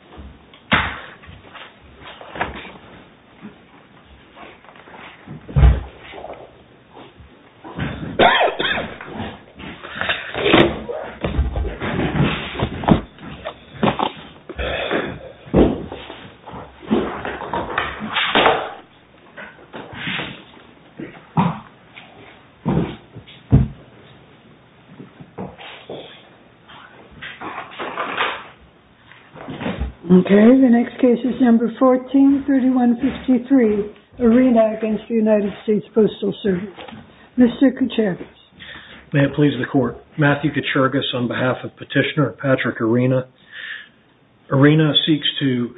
Space Telescope Okay, the next case is number 14-3153, Arena against the United States Postal Service. Mr. Kuchergis. May it please the Court. Matthew Kuchergis on behalf of Petitioner Patrick Arena. Arena seeks to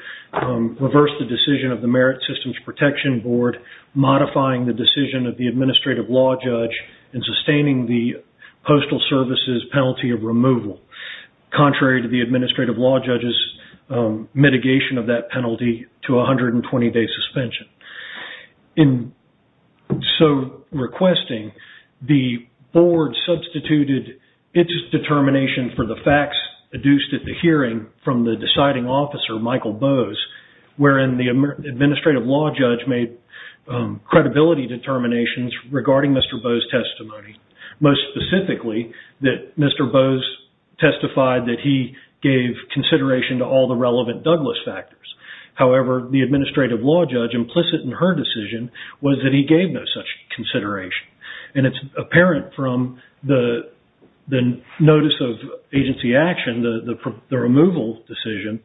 reverse the decision of the Merit Systems Protection Board modifying the decision of the Administrative Law Judge in sustaining the Postal Service's penalty of removal. Contrary to the Administrative Law Judge's mitigation of that penalty to a 120-day suspension. In so requesting, the Board substituted its determination for the facts deduced at the hearing from the deciding officer, Michael Bowes, wherein the Administrative Law Judge made credibility determinations regarding Mr. Bowes' testimony. Most specifically, that Mr. Bowes testified that he gave consideration to all the relevant Douglas factors. However, the Administrative Law Judge implicit in her decision was that he gave no such consideration. And it's apparent from the notice of agency action, the removal decision,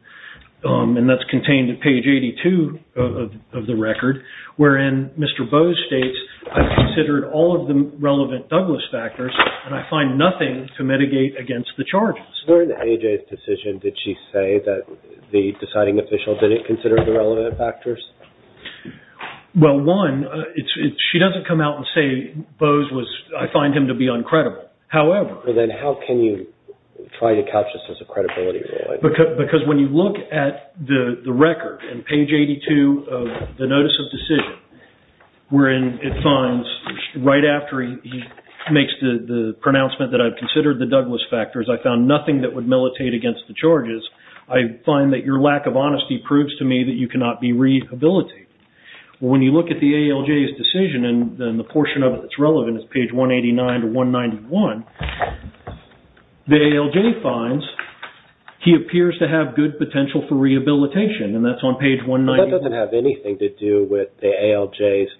and that's contained at page 82 of the record, wherein Mr. Bowes states, I've considered all of the relevant Douglas factors and I find nothing to mitigate against the charges. During AJ's decision, did she say that the deciding official didn't consider the relevant factors? Well, one, she doesn't come out and say, Bowes was, I find him to be uncredible. However. Then how can you try to catch this as a credibility? Because when you look at the record, and page 82 of the notice of decision, wherein it finds, right after he makes the pronouncement that I've considered the Douglas factors, I found nothing that would militate against the charges, I find that your lack of honesty proves to me that you cannot be rehabilitated. When you look at the ALJ's decision, and the portion of it that's relevant is page 189 to 191, the ALJ finds he appears to have good potential for rehabilitation, and that's on page 191. That doesn't have anything to do with the ALJ's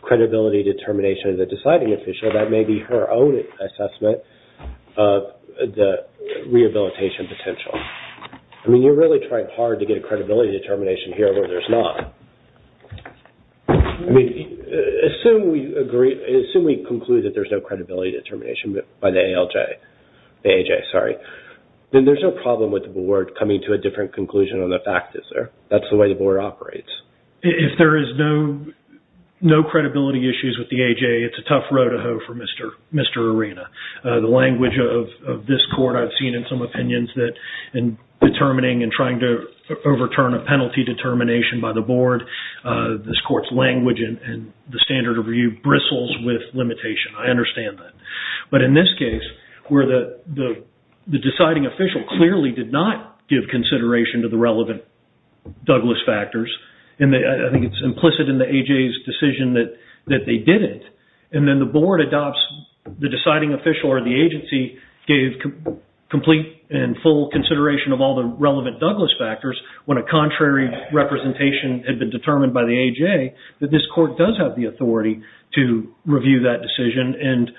credibility determination of the deciding official. That may be her own assessment of the rehabilitation potential. I mean, you're really trying hard to get a credibility determination here where there's not. I mean, assume we agree, assume we conclude that there's no credibility determination by the ALJ. The AJ, sorry. Then there's no problem with the board coming to a different conclusion on the factors there. That's the way the board operates. If there is no credibility issues with the AJ, it's a tough road to hoe for Mr. Arena. The language of this court I've seen in some opinions that in determining and trying to overturn a penalty determination by the board, this court's language and the standard of review bristles with limitation. I understand that. But in this case, where the deciding official clearly did not give consideration to the relevant Douglas factors, and I think it's implicit in the AJ's decision that they didn't, and then the board adopts the deciding official or the agency gave complete and full consideration of all the relevant Douglas factors when a contrary representation had been determined by the AJ, that this court does have the authority to review that decision. And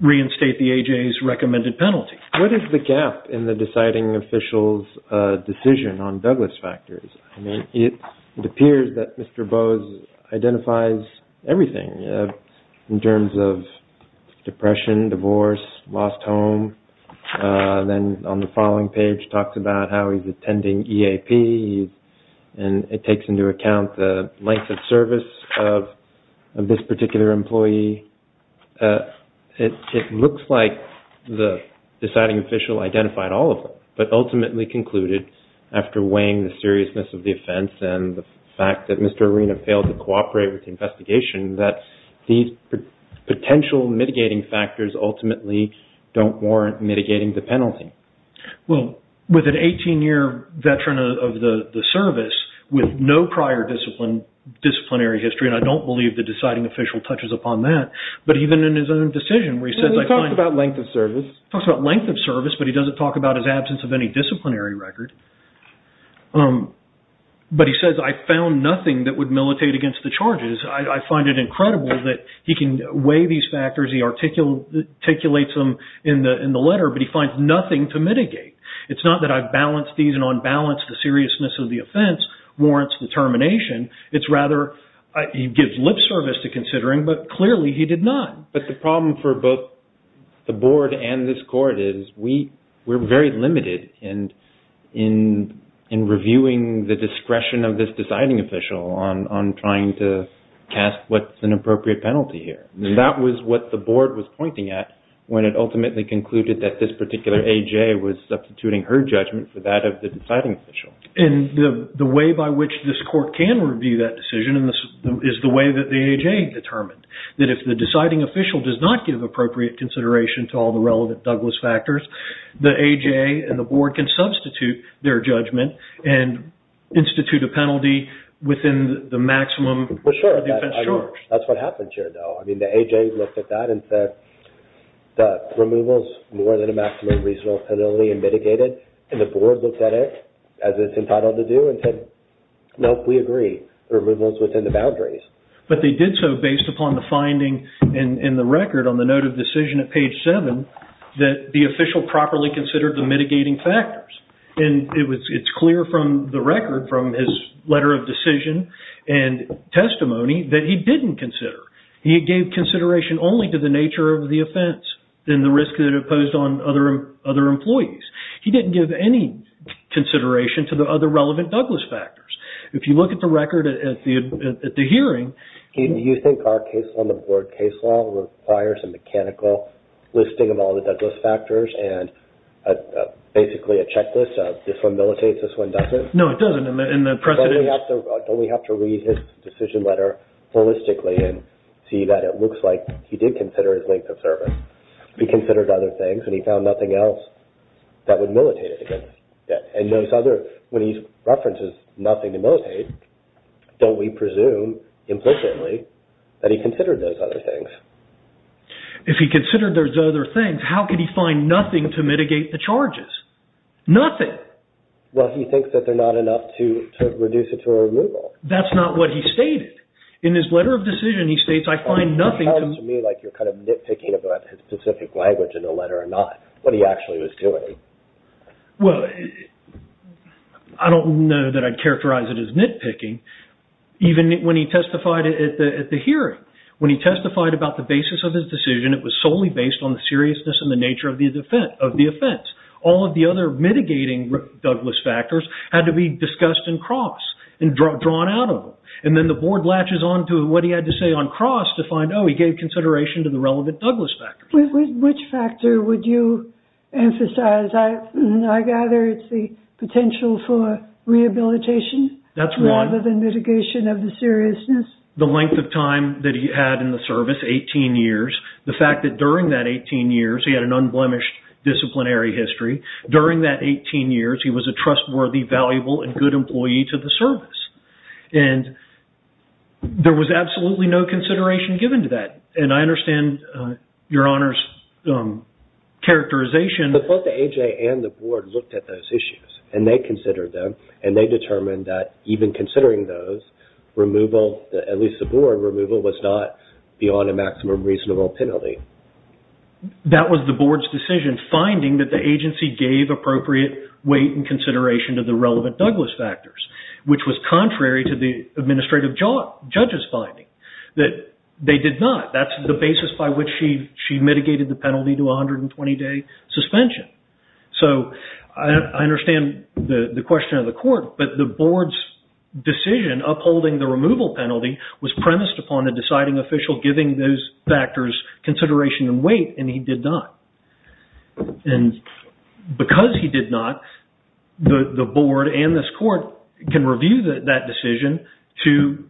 reinstate the AJ's recommended penalty. What is the gap in the deciding official's decision on Douglas factors? I mean, it appears that Mr. Bose identifies everything in terms of depression, divorce, lost home. Then on the following page talks about how he's attending EAP. And it takes into account the length of service of this particular employee. It looks like the deciding official identified all of them, but ultimately concluded after weighing the seriousness of the offense and the fact that Mr. Arena failed to cooperate with the investigation that these potential mitigating factors ultimately don't warrant mitigating the penalty. Well, with an 18-year veteran of the service with no prior disciplinary history, and I don't believe the deciding official touches upon that, but even in his own decision where he says... He talks about length of service. He talks about length of service, but he doesn't talk about his absence of any disciplinary record. But he says, I found nothing that would militate against the charges. I find it incredible that he can weigh these factors, he articulates them in the letter, but he finds nothing to mitigate. It's not that I balance these and unbalance the seriousness of the offense warrants the termination. It's rather he gives lip service to considering, but clearly he did not. But the problem for both the board and this court is we're very limited in reviewing the discretion of this deciding official on trying to cast what's an appropriate penalty here. That was what the board was pointing at when it ultimately concluded that this particular A.J. was substituting her judgment for that of the deciding official. And the way by which this court can review that decision is the way that the A.J. determined, that if the deciding official does not give appropriate consideration to all the relevant Douglas factors, the A.J. and the board can substitute their judgment and institute a penalty within the maximum defense charge. That's what happens here, though. I mean, the A.J. looked at that and said, the removal is more than a maximum reasonable penalty and mitigate it. And the board looked at it as it's entitled to do and said, nope, we agree, the removal is within the boundaries. But they did so based upon the finding in the record on the note of decision at page seven that the official properly considered the mitigating factors. And it's clear from the record, from his letter of decision and testimony that he didn't consider. He gave consideration only to the nature of the offense and the risk that it posed on other employees. He didn't give any consideration to the other relevant Douglas factors. If you look at the record at the hearing... Do you think our case on the board case law requires a mechanical listing of all the Douglas factors and basically a checklist of this one mitigates, this one doesn't? No, it doesn't. Don't we have to read his decision letter holistically and see that it looks like he did consider his length of service. He considered other things and he found nothing else that would militate it against. And those other, when he references nothing to militate, don't we presume implicitly that he considered those other things? If he considered those other things, how could he find nothing to mitigate the charges? Nothing. Nothing. Well, he thinks that they're not enough to reduce it to a removal. That's not what he stated. In his letter of decision, he states, I find nothing to... It sounds to me like you're kind of nitpicking about his specific language in the letter or not, what he actually was doing. Well, I don't know that I'd characterize it as nitpicking even when he testified at the hearing. When he testified about the basis of his decision, it was solely based on the seriousness and the nature of the offense. All of the other mitigating Douglas factors had to be discussed in cross and drawn out of them. And then the board latches onto what he had to say on cross to find, oh, he gave consideration to the relevant Douglas factors. Which factor would you emphasize? I gather it's the potential for rehabilitation... That's one. ...rather than mitigation of the seriousness. The length of time that he had in the service, 18 years. The fact that during that 18 years, he had an unblemished disciplinary history. During that 18 years, he was a trustworthy, valuable, and good employee to the service. And there was absolutely no consideration given to that. And I understand Your Honor's characterization... But both the A.J. and the board looked at those issues and they considered them and they determined that even considering those, removal, at least the board removal, was not beyond a maximum reasonable penalty. That was the board's decision, finding that the agency gave appropriate weight and consideration to the relevant Douglas factors, which was contrary to the administrative judge's finding, that they did not. That's the basis by which she mitigated the penalty to 120-day suspension. So I understand the question of the court, but the board's decision upholding the removal penalty was premised upon a deciding official giving those factors consideration and weight, and he did not. And because he did not, the board and this court can review that decision to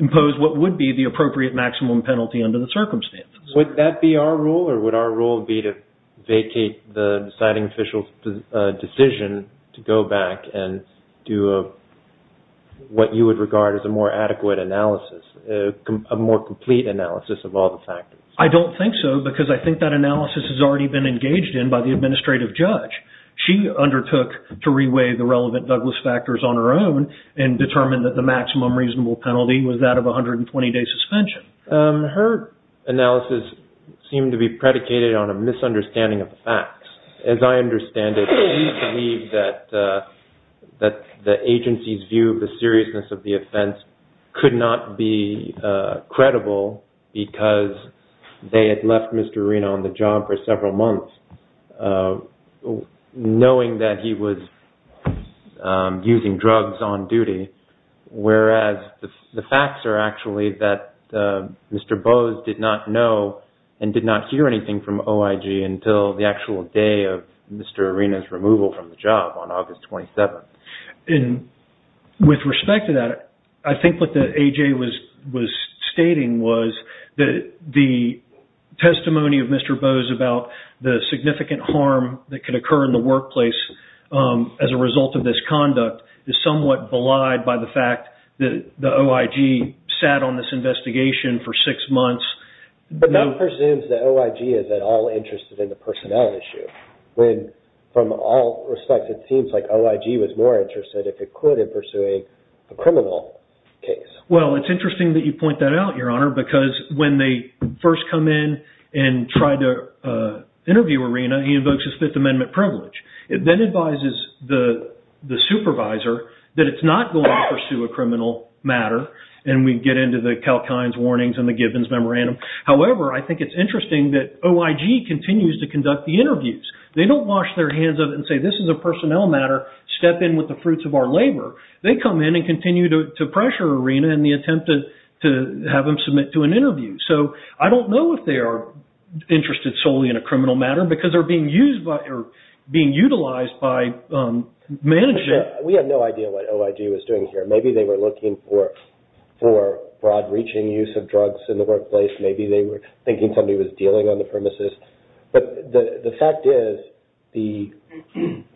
impose what would be the appropriate maximum penalty under the circumstances. Would that be our rule? Or would our rule be to vacate the deciding official's decision to go back and do what you would regard as a more adequate analysis, a more complete analysis of all the factors? I don't think so, because I think that analysis has already been engaged in by the administrative judge. She undertook to re-weigh the relevant Douglas factors on her own and determined that the maximum reasonable penalty was that of 120-day suspension. Her analysis seemed to be predicated on a misunderstanding of the facts. As I understand it, she believed that the agency's view of the seriousness of the offense could not be credible because they had left Mr. Arena on the job for several months knowing that he was using drugs on duty, whereas the facts are actually that Mr. Bose did not know and did not hear anything from OIG until the actual day of Mr. Arena's removal from the job on August 27th. With respect to that, I think what the A.J. was stating was that the testimony of Mr. Bose about the significant harm that could occur in the workplace as a result of this conduct is somewhat belied by the fact that the OIG sat on this investigation for six months. But that presumes that OIG is at all interested in the personnel issue. From all respects, it seems like OIG was more interested, if it could, in pursuing a criminal case. Well, it's interesting that you point that out, Your Honor, because when they first come in and try to interview Arena, he invokes his Fifth Amendment privilege. It then advises the supervisor that it's not going to pursue a criminal matter, and we get into the Kalkine's warnings and the Gibbons memorandum. However, I think it's interesting that OIG continues to conduct the interviews. They don't wash their hands of it and say, this is a personnel matter. Step in with the fruits of our labor. They come in and continue to pressure Arena in the attempt to have him submit to an interview. So I don't know if they are interested solely in a criminal matter because they're being utilized by management. We had no idea what OIG was doing here. Maybe they were looking for broad-reaching use of drugs in the workplace. Maybe they were thinking somebody was dealing on the premises. But the fact is, the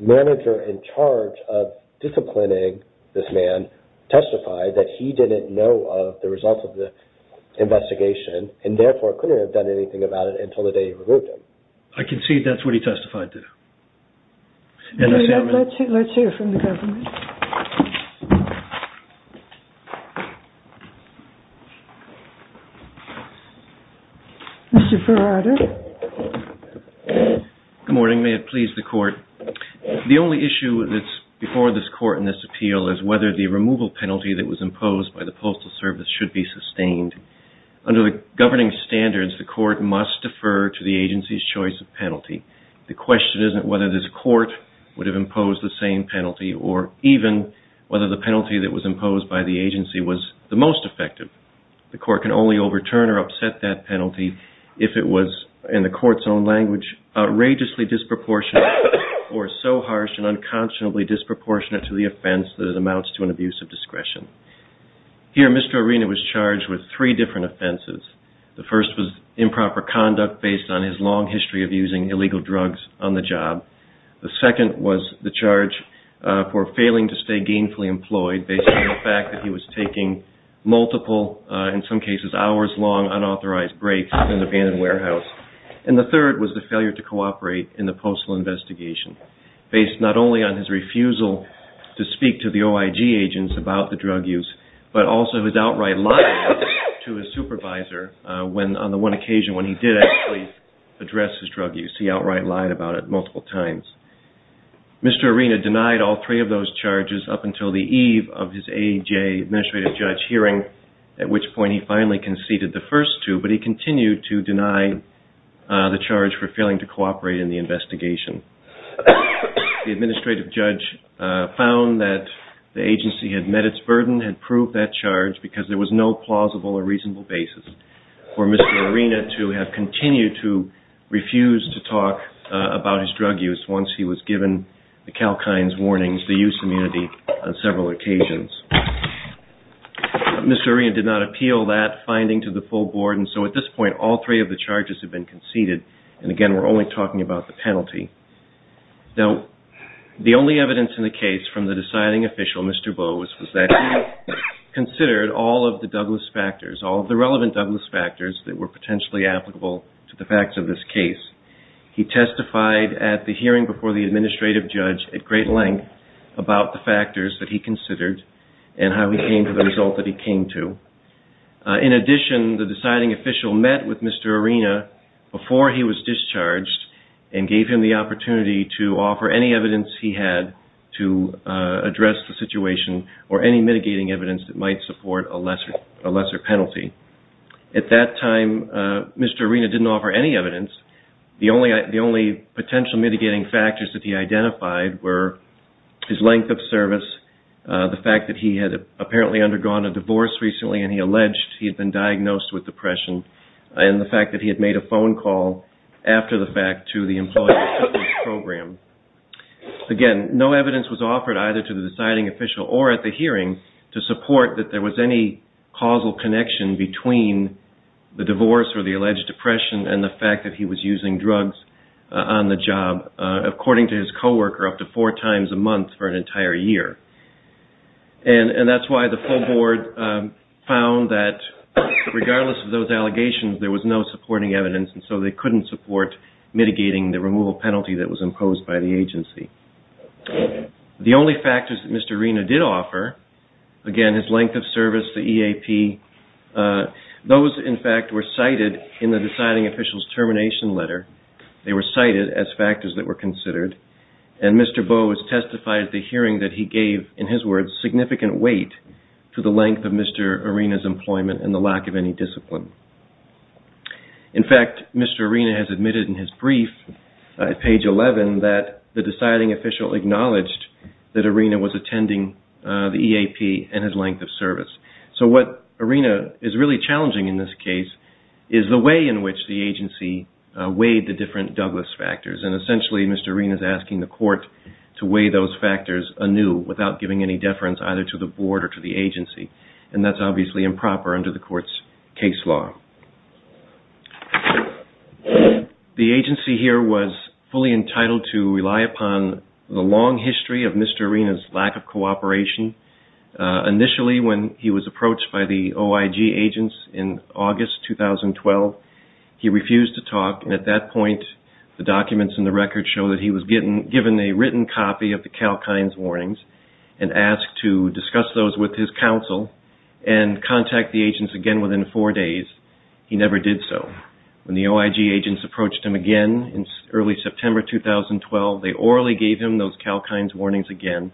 manager in charge of disciplining this man testified that he didn't know of the results of the investigation and, therefore, couldn't have done anything about it until the day he removed him. I concede that's what he testified to. Let's hear from the government. Mr. Farrarder. Good morning. May it please the Court. The only issue that's before this Court in this appeal is whether the removal penalty that was imposed by the Postal Service should be sustained. Under the governing standards, the Court must defer to the agency's choice of penalty. The question isn't whether this Court would have imposed the same penalty or not. Even whether the penalty that was imposed by the agency was the most effective. The Court can only overturn or upset that penalty if it was, in the Court's own language, outrageously disproportionate or so harsh and unconscionably disproportionate to the offense that it amounts to an abuse of discretion. Here, Mr. Arena was charged with three different offenses. The first was improper conduct based on his long history of using illegal drugs on the job. The second was the charge for failing to stay gainfully employed based on the fact that he was taking multiple, in some cases hours long, unauthorized breaks in an abandoned warehouse. And the third was the failure to cooperate in the postal investigation. Based not only on his refusal to speak to the OIG agents about the drug use, but also his outright lying to his supervisor on the one occasion when he did actually address his drug use. The agency outright lied about it multiple times. Mr. Arena denied all three of those charges up until the eve of his AEJ Administrative Judge hearing, at which point he finally conceded the first two, but he continued to deny the charge for failing to cooperate in the investigation. The Administrative Judge found that the agency had met its burden, had proved that charge because there was no plausible or reasonable basis for Mr. Arena to have continued to refuse to talk about his drug use once he was given the Kalkine's warnings, the use immunity on several occasions. Mr. Arena did not appeal that finding to the full board, and so at this point all three of the charges have been conceded. And again, we're only talking about the penalty. Now, the only evidence in the case from the deciding official, Mr. Boas, was that he considered all of the Douglas factors, all of the relevant Douglas factors that were potentially applicable to the facts of this case. He testified at the hearing before the Administrative Judge at great length about the factors that he considered and how he came to the result that he came to. In addition, the deciding official met with Mr. Arena before he was discharged and gave him the opportunity to offer any evidence he had to address the situation or any mitigating evidence that might support a lesser penalty. At that time, Mr. Arena didn't offer any evidence. The only potential mitigating factors that he identified were his length of service, the fact that he had apparently undergone a divorce recently and he alleged he had been diagnosed with depression, and the fact that he had made a phone call after the fact to the employee assistance program. Again, no evidence was offered either to the deciding official or at the hearing to support that there was any causal connection between the divorce or the alleged depression and the fact that he was using drugs on the job, according to his co-worker, up to four times a month for an entire year. And that's why the full board found that, regardless of those allegations, there was no supporting evidence and so they couldn't support mitigating the removal penalty that was imposed by the agency. The only factors that Mr. Arena did offer, again, his length of service, the EAP, those, in fact, were cited in the deciding official's termination letter. They were cited as factors that were considered and Mr. Bowes testified at the hearing that he gave, in his words, significant weight to the length of Mr. Arena's employment and the lack of any discipline. In fact, Mr. Arena has admitted in his brief, page 11, that the deciding official acknowledged that Arena was attending the EAP and his length of service. So what Arena is really challenging in this case is the way in which the agency weighed the different Douglas factors. And essentially, Mr. Arena is asking the court to weigh those factors anew without giving any deference either to the board or to the agency. And that's obviously improper under the court's case law. The agency here was fully entitled to rely upon the long history of Mr. Arena's lack of cooperation. Initially, when he was approached by the OIG agents in August 2012, he refused to talk and at that point, the documents in the record show that he was given a written copy of the CalKinds warnings and asked to discuss those with his counsel and contact the agents again within four days. He never did so. When the OIG agents approached him again in early September 2012, they orally gave him those CalKinds warnings again.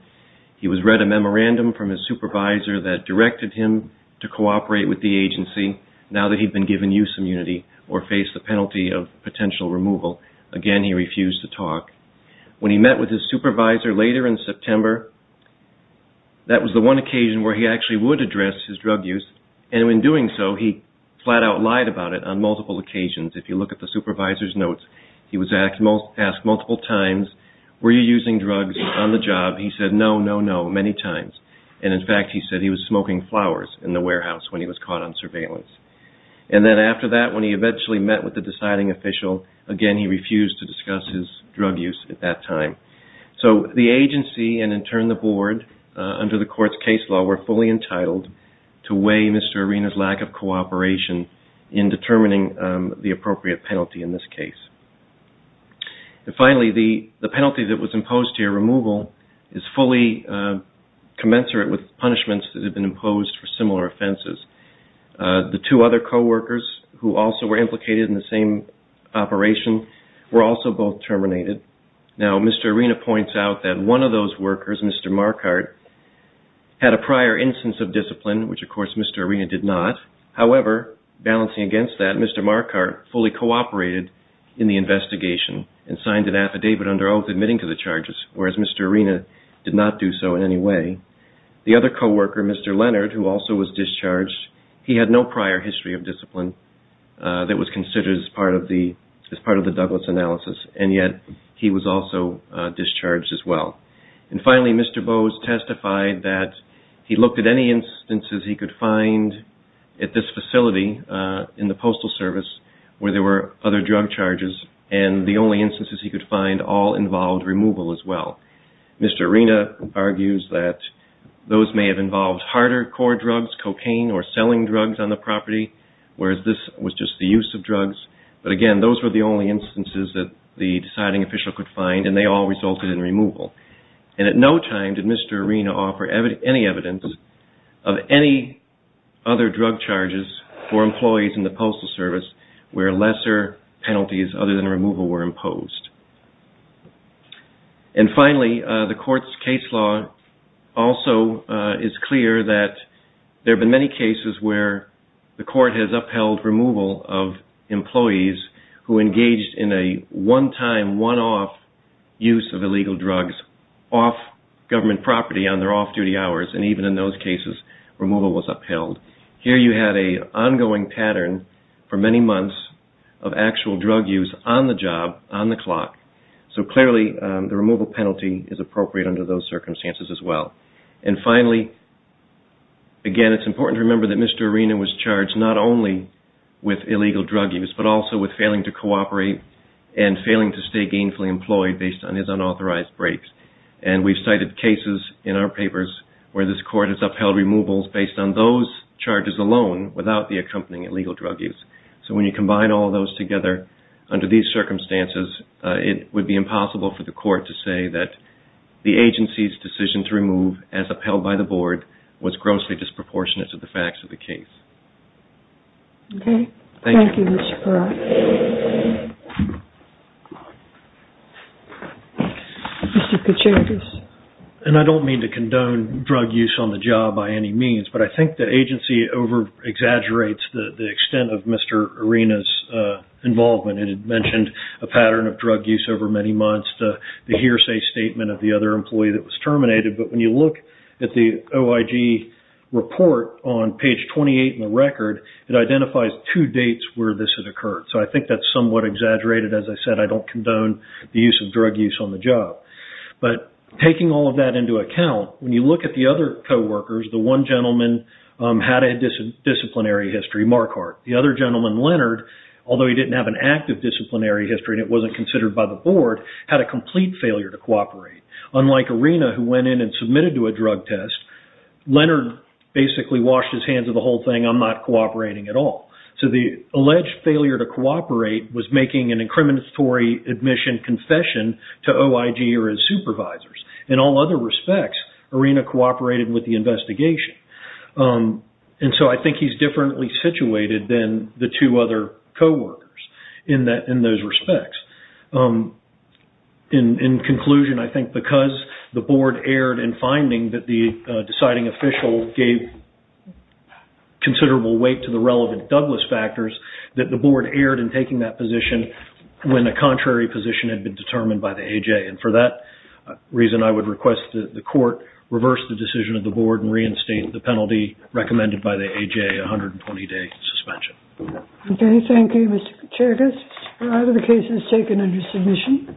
He was read a memorandum from his supervisor that directed him to cooperate with the agency now that he'd been given use immunity or faced the penalty of potential removal. Again, he refused to talk. When he met with his supervisor later in September, that was the one occasion where he actually would address his drug use and in doing so, he flat out lied about it on multiple occasions. If you look at the supervisor's notes, he was asked multiple times, were you using drugs on the job? He said, no, no, no, many times. In fact, he said he was smoking flowers in the warehouse when he was caught on surveillance. After that, when he eventually met with the deciding official, again, he refused to discuss his drug use at that time. The agency and in turn, the board, under the court's case law, were fully entitled to weigh Mr. Arena's lack of cooperation in determining the appropriate penalty in this case. Finally, the penalty that was imposed here, removal, is fully commensurate with punishments that have been imposed for similar offenses. The two other co-workers who also were implicated in the same operation were also both terminated. Now, Mr. Arena points out that one of those workers, Mr. Marquardt, had a prior instance of discipline, which of course Mr. Arena did not. However, balancing against that, Mr. Marquardt fully cooperated in the investigation and signed an affidavit under oath admitting to the charges, whereas Mr. Arena did not do so in any way. The other co-worker, Mr. Leonard, who also was discharged, he had no prior history of discipline that was considered as part of the Douglas analysis, and yet he was also discharged as well. And finally, Mr. Bowes testified that he looked at any instances he could find at this facility in the Postal Service where there were other drug charges, and the only instances he could find all involved removal as well. Mr. Arena argues that those may have involved harder core drugs, cocaine or selling drugs on the property, whereas this was just the use of drugs. But again, those were the only instances that the deciding official could find, and they all resulted in removal. And at no time did Mr. Arena offer any evidence of any other drug charges for employees in the Postal Service where lesser penalties other than removal were imposed. And finally, the Court's case law also is clear that there have been many cases where the Court has upheld removal of employees who engaged in a one-time, one-off use of illegal drugs off government property on their off-duty hours, and even in those cases, removal was upheld. Here you had an ongoing pattern for many months of actual drug use on the job, on the clock, so clearly the removal penalty is appropriate under those circumstances as well. And finally, again, it's important to remember that Mr. Arena was charged not only with illegal drug use, but also with failing to cooperate and failing to stay gainfully employed based on his unauthorized breaks. And we've cited cases in our papers where this Court has upheld removals based on those charges alone without the accompanying illegal drug use. So when you combine all those together under these circumstances, it would be impossible for the Court to say that the agency's decision to remove, as upheld by the Board, was grossly disproportionate to the facts of the case. Okay. Thank you, Mr. Peratti. Mr. Kucheridis. And I don't mean to condone drug use on the job by any means, but I think the agency over-exaggerates the extent of Mr. Arena's involvement. It had mentioned a pattern of drug use over many months, the hearsay statement of the other employee that was terminated, but when you look at the OIG report on page 28 in the record, it identifies two dates where this had occurred. So I think that's somewhat exaggerated. As I said, I don't condone the use of drug use on the job. But taking all of that into account, when you look at the other co-workers, the one gentleman had a disciplinary history, Marquardt. The other gentleman, Leonard, although he didn't have an active disciplinary history and it wasn't considered by the board, had a complete failure to cooperate. Unlike Arena, who went in and submitted to a drug test, Leonard basically washed his hands of the whole thing, I'm not cooperating at all. So the alleged failure to cooperate was making an incriminatory admission confession to OIG or his supervisors. In all other respects, Arena cooperated with the investigation. And so I think he's differently situated than the two other co-workers in those respects. In conclusion, I think because the board erred in finding that the deciding official gave considerable weight to the relevant Douglas factors, that the board erred in taking that position when a contrary position had been determined by the AJ. And for that reason, I would request that the court reverse the decision of the board and reinstate the penalty recommended by the AJ, a 120-day suspension. Okay, thank you, Mr. Kuchergis. The case is taken under submission.